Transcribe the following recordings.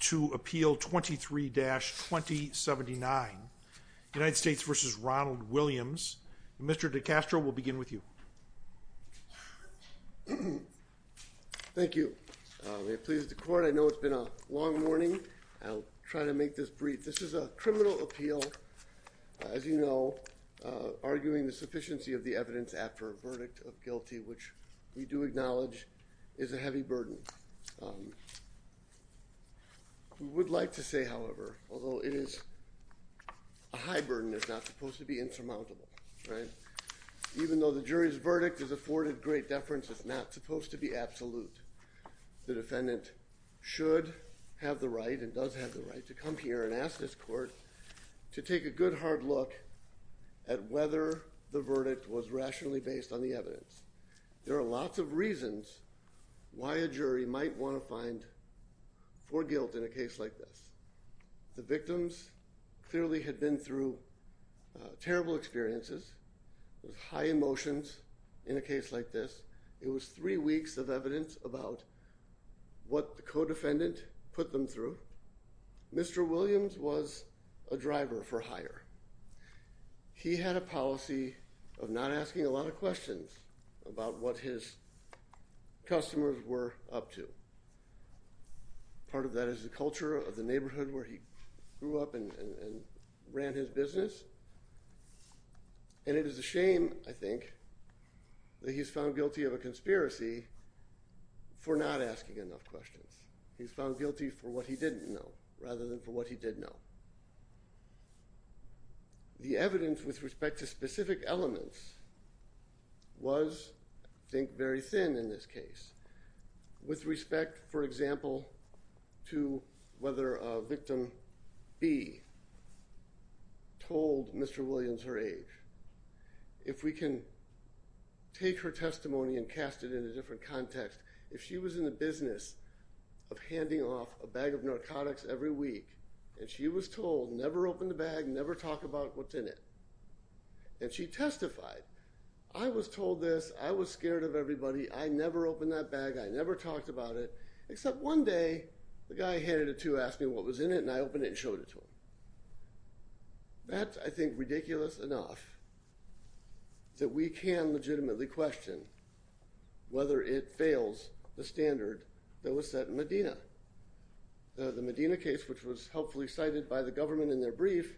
to appeal 23-2079 United States v. Ronald Williams. Mr. DiCastro will begin with you. Thank you. May it please the court. I know it's been a long morning. I'll try to make this brief. This is a criminal appeal. As you know, arguing the sufficiency of the evidence after a verdict of guilty, which we do acknowledge is a heavy burden. We would like to say, however, although it is a high burden, it's not supposed to be insurmountable. Even though the jury's verdict is afforded great deference, it's not supposed to be absolute. The defendant should have the right and does have the right to come here and ask this court to take a good, hard look at whether the verdict was rationally based on the evidence. There are lots of reasons why a jury might want to find for guilt in a case like this. The victims clearly had been through terrible experiences, high emotions in a case like this. It was three weeks of evidence about what the co-defendant put them through. Mr. Williams was a driver for hire. He had a policy of not asking a lot of questions about what his customers were up to. Part of that is the culture of the neighborhood where he grew up and ran his business. And it is a shame, I think, that he's found guilty of a conspiracy for not asking enough questions. He's found guilty for what he didn't know, rather than for what he did know. The evidence with respect to specific elements was, I think, very thin in this case. With respect, for example, to whether victim B told Mr. Williams her age. If we can take her testimony and cast it in a different context, if she was in the business of handing off a bag of narcotics every week, and she was told, never open the bag, never talk about what's in it, and she testified, I was told this, I was scared of everybody, I never opened that bag, I never talked about it, except one day, the guy handed it to her, asked me what was in it, and I opened it and showed it to him. That's, I think, ridiculous enough that we can legitimately question whether it fails the standard that was set in Medina. The Medina case, which was helpfully cited by the government in their brief,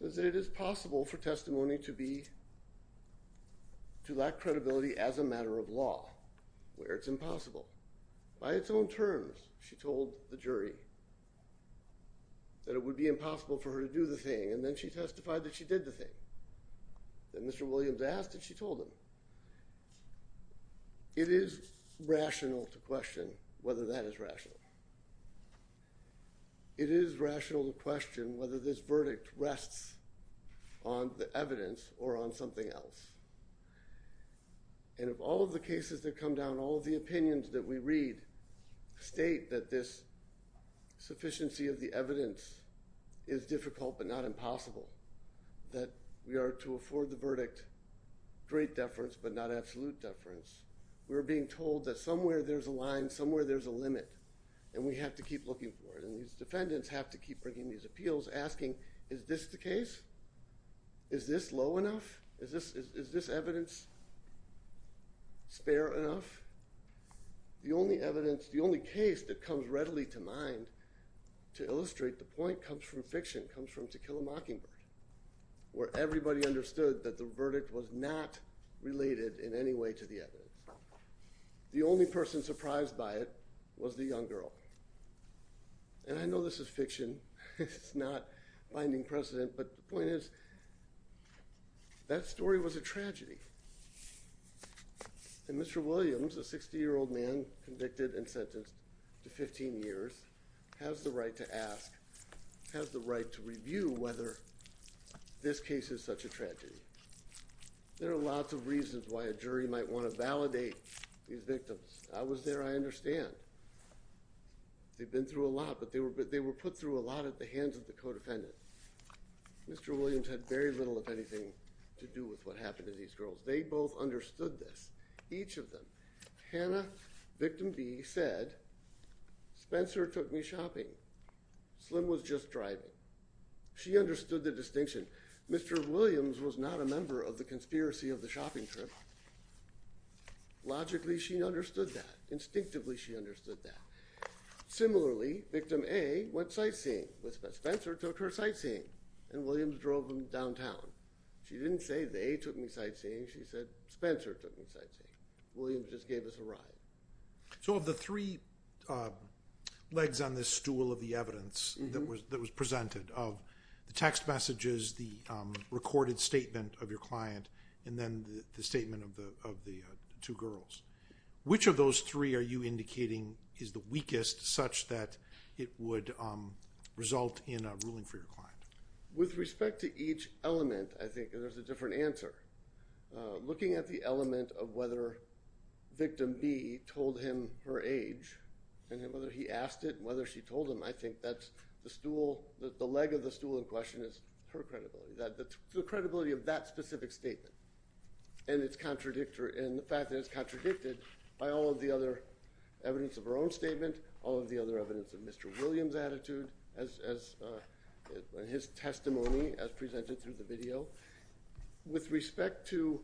says that it is possible for testimony to be, to lack credibility as a matter of law, where it's impossible. By its own terms, she told the jury that it would be impossible for her to do the thing, and then she testified that she did the thing. Then Mr. Williams asked and she told him. It is rational to question whether that is rational. It is rational to question whether this verdict rests on the evidence or on something else. And of all of the cases that come down, all of the opinions that we read state that this we are to afford the verdict great deference, but not absolute deference. We're being told that somewhere there's a line, somewhere there's a limit, and we have to keep looking for it, and these defendants have to keep bringing these appeals, asking, is this the case? Is this low enough? Is this evidence spare enough? The only evidence, the only case that comes readily to mind to illustrate the point comes from fiction, comes from To Kill a Mockingbird, where everybody understood that the verdict was not related in any way to the evidence. The only person surprised by it was the young girl. And I know this is fiction, it's not finding precedent, but the point is that story was a tragedy. And Mr. Williams, a 60-year-old man convicted and sentenced to 15 years, has the right to ask, has the right to review whether this case is such a tragedy. There are lots of reasons why a jury might want to validate these victims. I was there, I understand. They've been through a lot, but they were put through a lot at the hands of the co-defendant. Mr. Williams had very little, if anything, to do with what happened to these girls. They both understood this, each of them. Hannah, victim B, said, Spencer took me shopping. Slim was just driving. She understood the distinction. Mr. Williams was not a member of the conspiracy of the shopping trip. Logically, she understood that. Instinctively, she understood that. Similarly, victim A went sightseeing with Spencer. Spencer took her sightseeing and Williams drove them downtown. She didn't say they took me sightseeing. She said Spencer took me sightseeing. Williams just gave us a ride. So of the three legs on this stool of the evidence that was presented, of the text messages, the recorded statement of your client, and then the statement of the two girls, which of those three are you indicating is the weakest such that it would result in a ruling for your client? With respect to each element, I think there's a different answer. Looking at the element of whether victim B told him her age and whether he asked it and whether she told him, I think that's the stool, the leg of the stool in question is her credibility, the credibility of that specific statement and the fact that it's contradicted by all of the other evidence of her own statement, all of the other evidence of Mr. Williams' attitude as his testimony as presented through the video. With respect to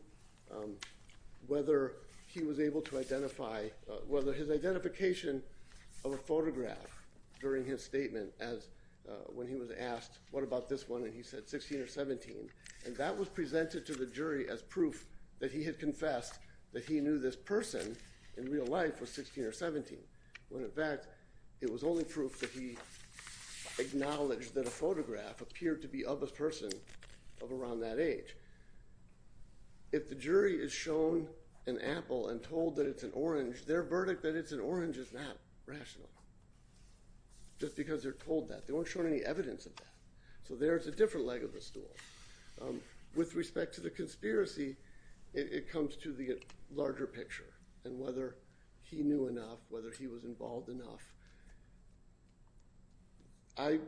whether he was able to identify, whether his identification of a photograph during his statement as when he was asked, what about this one? And he said 16 or 17. And that was presented to the jury as proof that he had confessed that he knew this person in real life was 16 or 17. When in fact, it was only proof that he acknowledged that a photograph appeared to be of a person of around that age. If the jury is shown an apple and told that it's an orange, their verdict that it's an orange is not rational, just because they're told that. They weren't shown any evidence of that. So there's a different leg of the stool. With respect to the conspiracy, it comes to the larger picture and whether he knew enough, whether he was involved enough. I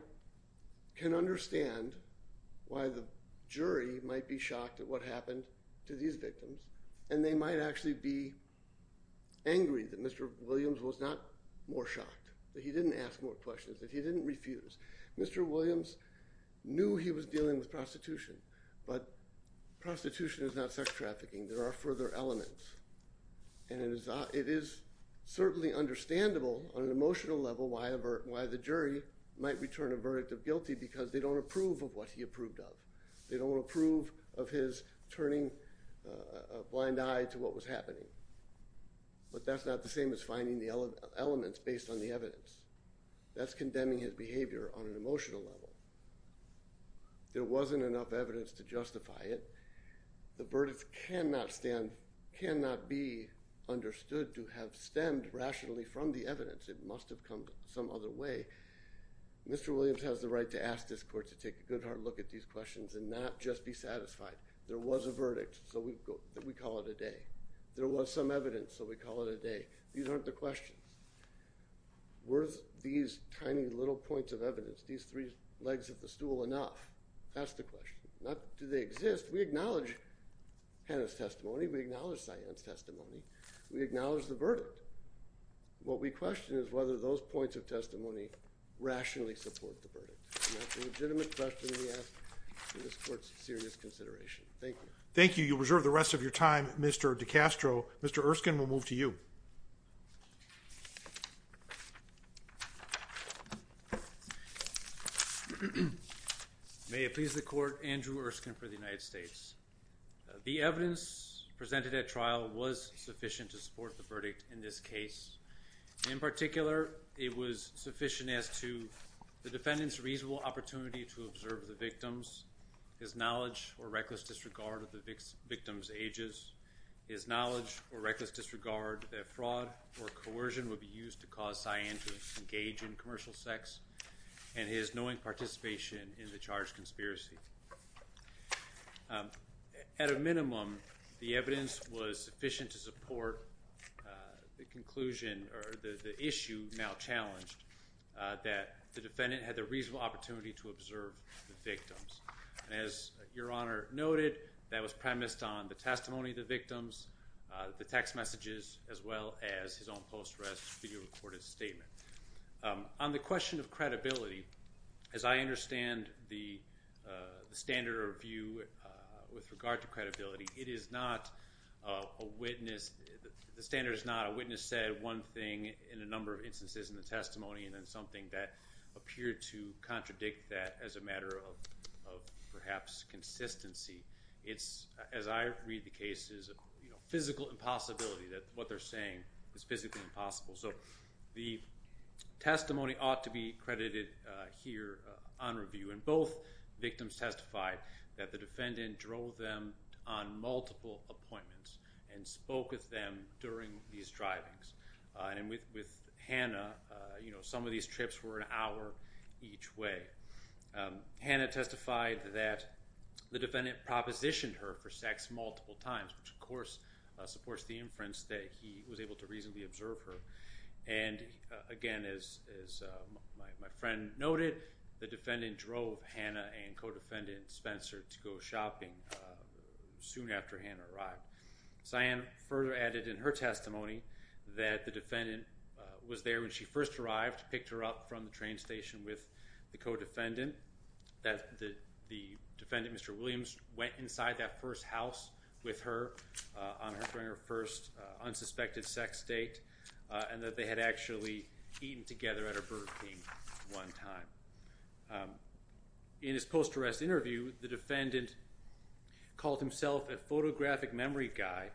can understand why the jury might be shocked at what happened to these victims. And they might actually be angry that Mr. Williams was not more shocked, that he didn't ask more questions, that he didn't refuse. Mr. Williams knew he was dealing with prostitution, but prostitution is not sex trafficking. There are further elements. And it is certainly understandable on an emotional level why the jury might return a verdict of guilty because they don't approve of what he approved of. They don't approve of his turning a blind eye to what was happening. But that's not the same as finding the elements based on the evidence. That's condemning his behavior on an emotional level. There wasn't enough evidence to justify it. The verdict cannot be understood to have stemmed rationally from the evidence. It must have come some other way. Mr. Williams has the right to ask this court to take a good hard look at these questions and not just be satisfied. There was a verdict, so we call it a day. There was some evidence, so we call it a day. These aren't the enough. That's the question. Not do they exist. We acknowledge Hannah's testimony. We acknowledge Cyanne's testimony. We acknowledge the verdict. What we question is whether those points of testimony rationally support the verdict. And that's a legitimate question we ask for this court's serious consideration. Thank you. Thank you. You'll reserve the rest of your time, Mr. DiCastro. Mr. Erskine, we'll move to you. May it please the court, Andrew Erskine for the United States. The evidence presented at trial was sufficient to support the verdict in this case. In particular, it was sufficient as to the defendant's reasonable opportunity to observe the victims, his knowledge or reckless disregard of the victims' ages, his knowledge or reckless disregard that fraud or coercion would be used to cause Cyanne to engage in commercial sex, and his knowing participation in the charged conspiracy. At a minimum, the evidence was sufficient to support the conclusion or the issue now challenged that the defendant had the reasonable opportunity to observe the victims. As your Honor noted, that was premised on the testimony of the victims, the text messages, as well as his own post-arrest video recorded statement. On the question of credibility, as I understand the standard of review with regard to credibility, it is not a witness, the standard is not a witness said one thing in a number of instances in the testimony and then something that appeared to contradict that as a matter of perhaps consistency. It's, as I read the cases, physical impossibility that what they're saying is physically impossible. So the testimony ought to be credited here on review, and both victims testified that the defendant drove them on and with Hannah, you know, some of these trips were an hour each way. Hannah testified that the defendant propositioned her for sex multiple times, which of course supports the inference that he was able to reasonably observe her, and again, as my friend noted, the defendant drove Hannah and co-defendant Spencer to go shopping soon after Hannah arrived. Cyanne further added in her testimony that the defendant was there when she first arrived, picked her up from the train station with the co-defendant, that the defendant, Mr. Williams, went inside that first house with her during her first unsuspected sex date, and that they had actually eaten together at a Burger King one time. In his post-arrest interview, the defendant called himself a detective.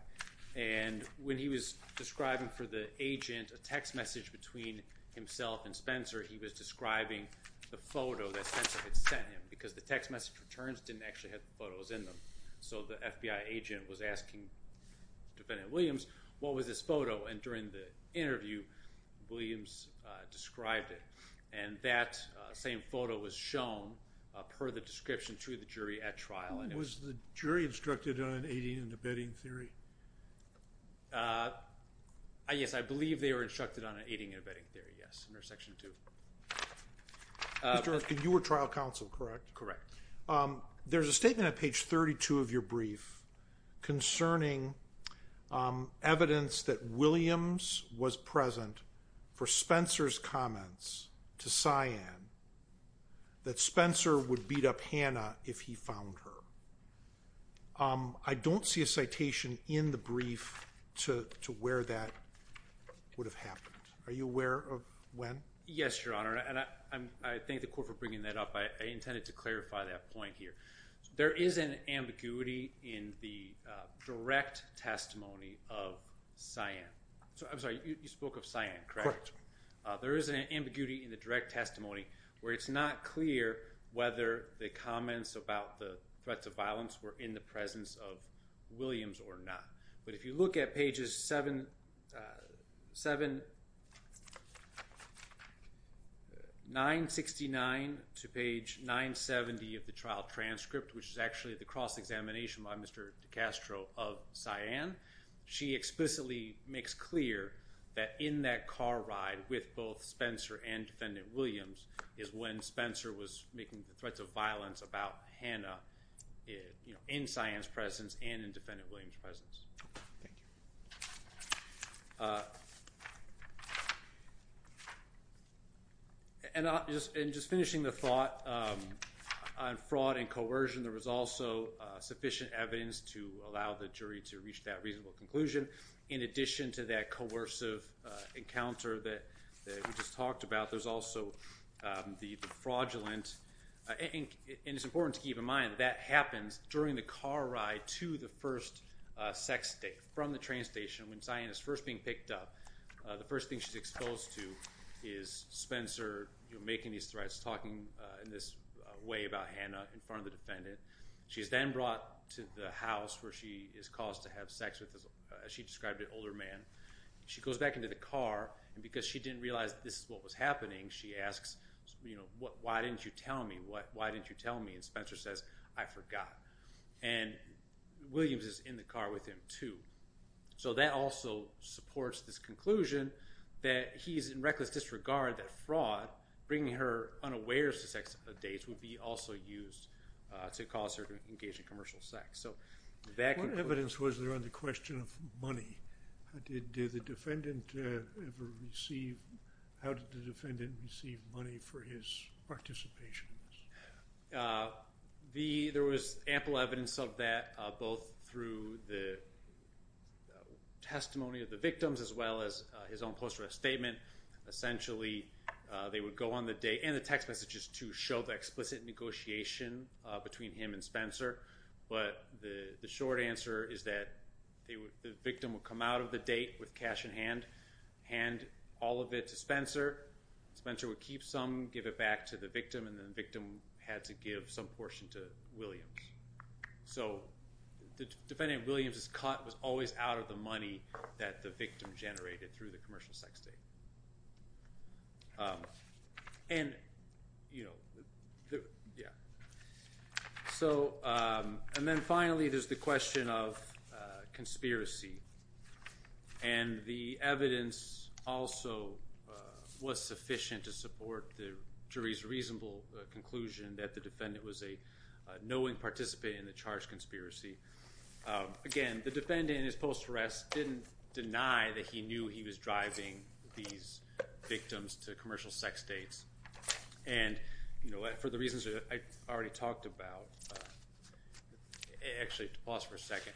When he was describing for the agent a text message between himself and Spencer, he was describing the photo that Spencer had sent him, because the text message returns didn't actually have the photos in them. So the FBI agent was asking defendant Williams, what was this photo, and during the interview, Williams described it, and that same photo was shown per the description to the jury at trial. Was the jury instructed on aiding and abetting theory? Yes, I believe they were instructed on aiding and abetting theory, yes, under Section 2. You were trial counsel, correct? Correct. There's a statement on page 32 of your brief concerning evidence that Williams was present for Spencer's comments to Cyanne that Spencer would beat up Hannah if he found her. I don't see a citation in the brief to where that would have happened. Are you aware of when? Yes, Your Honor, and I thank the court for bringing that up. I intended to clarify that point here. There is an ambiguity in the direct testimony of Cyanne. I'm sorry, you spoke of Cyanne, correct? Correct. There is an ambiguity in the direct testimony where it's not clear whether the comments about the threats of violence were in the presence of Williams or not. But if you look at pages 769 to page 970 of the trial transcript, which is actually the cross-examination by Mr. DiCastro of Cyanne, she explicitly makes clear that in that car ride with both Spencer and Defendant Williams is when Spencer was making threats of violence about Hannah in Cyanne's presence and in Defendant Williams' presence. And just finishing the thought on fraud and coercion, there was also sufficient evidence to allow the jury to reach that reasonable conclusion. In addition to that coercive encounter that we just talked about, there's also the fraudulent, and it's important to keep in mind that that happens during the car ride to the first sex from the train station when Cyanne is first being picked up. The first thing she's exposed to is Spencer making these threats, talking in this way about Hannah in front of the defendant. She's then brought to the house where she is as she described an older man. She goes back into the car, and because she didn't realize this is what was happening, she asks, you know, why didn't you tell me? Why didn't you tell me? And Spencer says, I forgot. And Williams is in the car with him too. So that also supports this conclusion that he's in reckless disregard that fraud, bringing her unawares to sex dates, would be also used to cause her to engage in commercial sex. What evidence was there on the question of money? How did the defendant receive money for his participation? There was ample evidence of that, both through the testimony of the victims as well as his own post-arrest statement. Essentially, they would go on the date and the text messages to show the explicit negotiation between him and Spencer, but the short answer is that the victim would come out of the date with cash in hand, hand all of it to Spencer. Spencer would keep some, give it back to the victim, and the victim had to give some portion to Williams. So the defendant Williams' cut was always out of the money that the victim generated through the commercial sex date. And, you know, yeah. So, and then finally, there's the question of conspiracy. And the evidence also was sufficient to support the jury's reasonable conclusion that the defendant was a knowing participant in the charged conspiracy. Again, the defendant in his post-arrest didn't deny that he was driving these victims to commercial sex dates. And, you know, for the reasons that I already talked about, actually, pause for a second.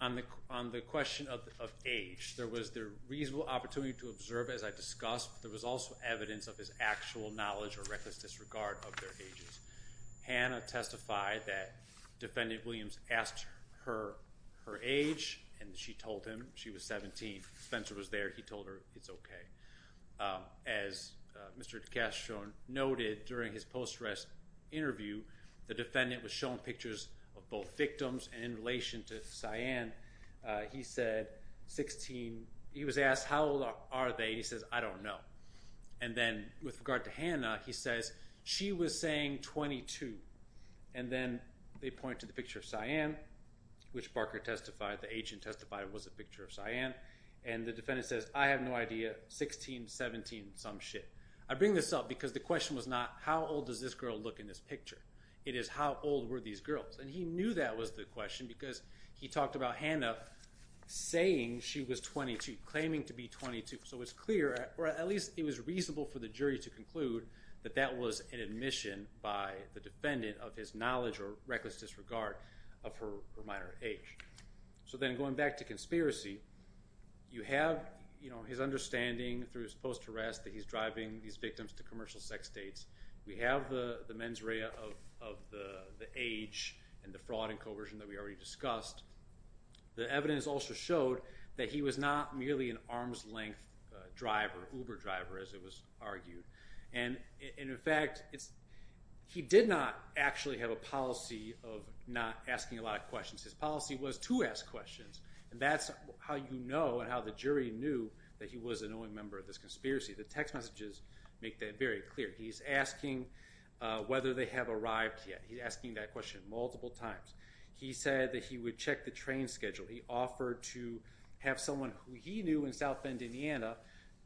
On the question of age, there was the reasonable opportunity to observe, as I discussed, but there was also evidence of his actual knowledge or reckless disregard of their ages. Hannah testified that defendant Williams asked her her age, and she told him she was 17. Spencer was there. He told her it's okay. As Mr. DeCastro noted during his post-arrest interview, the defendant was shown pictures of both victims, and in relation to Cyan, he said 16. He was asked, how old are they? He says, I don't know. And then with regard to Hannah, he says she was saying 22. And then they point to the picture of Cyan, which Barker testified, the agent testified, was a picture of Cyan. And the defendant says, I have no idea, 16, 17, some shit. I bring this up because the question was not, how old does this girl look in this picture? It is, how old were these girls? And he knew that was the question because he talked about Hannah saying she was 22, claiming to be 22. So it's clear, or at least it was reasonable for the jury to conclude, that that was an admission by the defendant of his knowledge or reckless disregard of her minor age. So then going back to conspiracy, you have, you know, his understanding through his post-harassment that he's driving these victims to commercial sex states. We have the mens rea of the age and the fraud and coercion that we already discussed. The evidence also showed that he was not merely an arm's length driver, Uber driver, as it was argued. And in fact, he did not actually have a policy of not asking a lot of questions. His policy was to ask questions, and that's how you know and how the jury knew that he was an owing member of this conspiracy. The text messages make that very clear. He's asking whether they have arrived yet. He's asking that question multiple times. He said that he would check the train schedule. He offered to have someone who he knew in South Bend, Indiana,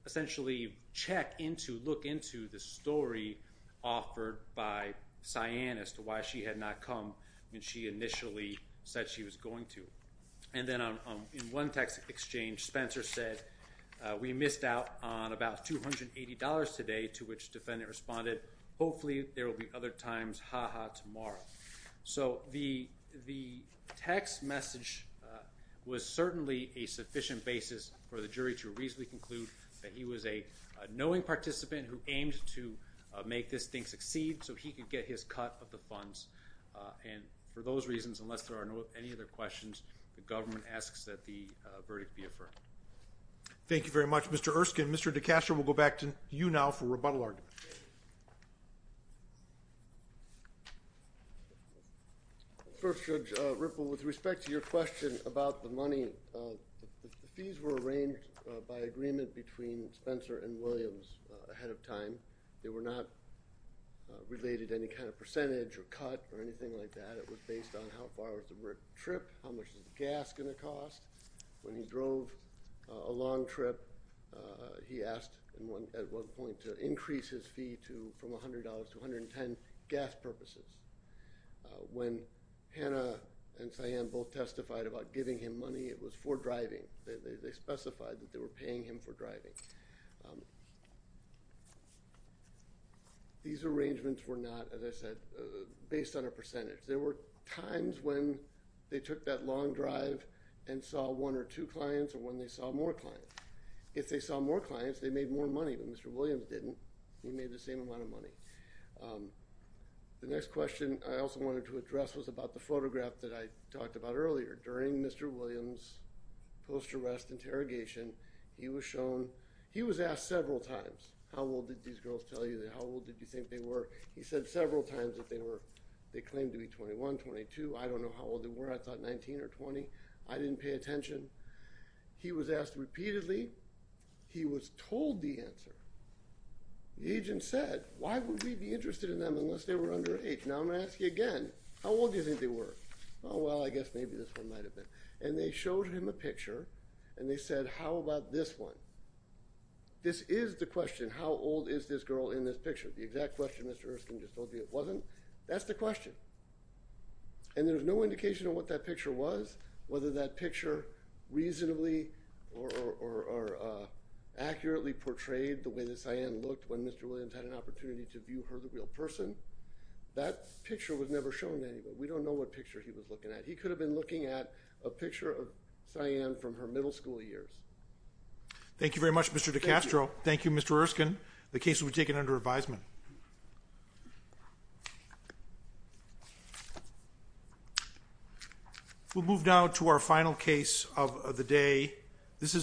essentially check into, look into the story offered by Cyan as to why she had not come when she initially said she was going to. And then in one text exchange, Spencer said, we missed out on about $280 today, to which the defendant responded, hopefully there will be other times, haha, tomorrow. So the text message was certainly a sufficient basis for the jury to reasonably conclude that he was a knowing participant who aimed to make this thing succeed so he could get his cut of the funds. And for those reasons, unless there are any other questions, the government asks that the verdict be affirmed. Thank you very much, Mr. Erskine. Mr. DeCascio, we'll go back to you now for rebuttal arguments. First, Judge Ripple, with respect to your question about the money, the fees were arranged by agreement between Spencer and Williams ahead of time. They were not related to any kind of percentage or cut or anything like that. It was based on how far was the trip, how much is the gas going to cost. When he drove a long trip, he asked at one point to increase his fee from $100 to $110 gas purposes. When Hannah and Sian both testified about giving him money, it was for driving. They specified that they were paying him for driving. These arrangements were not, as I said, based on a percentage. There were times when they took that long drive and saw one or two clients or when they saw more clients. If they saw more clients, they made more money, but Mr. Williams didn't. He made the same amount of money. The next question I also wanted to address was about the photograph that I talked about earlier. During Mr. Williams' post-arrest interrogation, he was shown, he was asked several times, how old did these girls tell you? How old did you think they were? He said several times that they were, they claimed to be 21, 22. I don't know how old they were. I thought 19 or 20. I didn't pay attention. He was asked repeatedly. He was told the answer. The agent said, why would we be interested in them unless they were underage? Now, I'm going to ask you again. How old do you think they were? Oh, well, I guess maybe this one might have been. And they showed him a picture and they said, how about this one? This is the question, how old is this girl in this picture? The exact question Mr. Erskine just told you it wasn't. That's the whether that picture reasonably or accurately portrayed the way that Sian looked when Mr. Williams had an opportunity to view her the real person. That picture was never shown to anybody. We don't know what picture he was looking at. He could have been looking at a picture of Sian from her middle school years. Thank you very much, Mr. DiCastro. Thank you, Mr. Erskine. The case will move down to our final case of the day. This is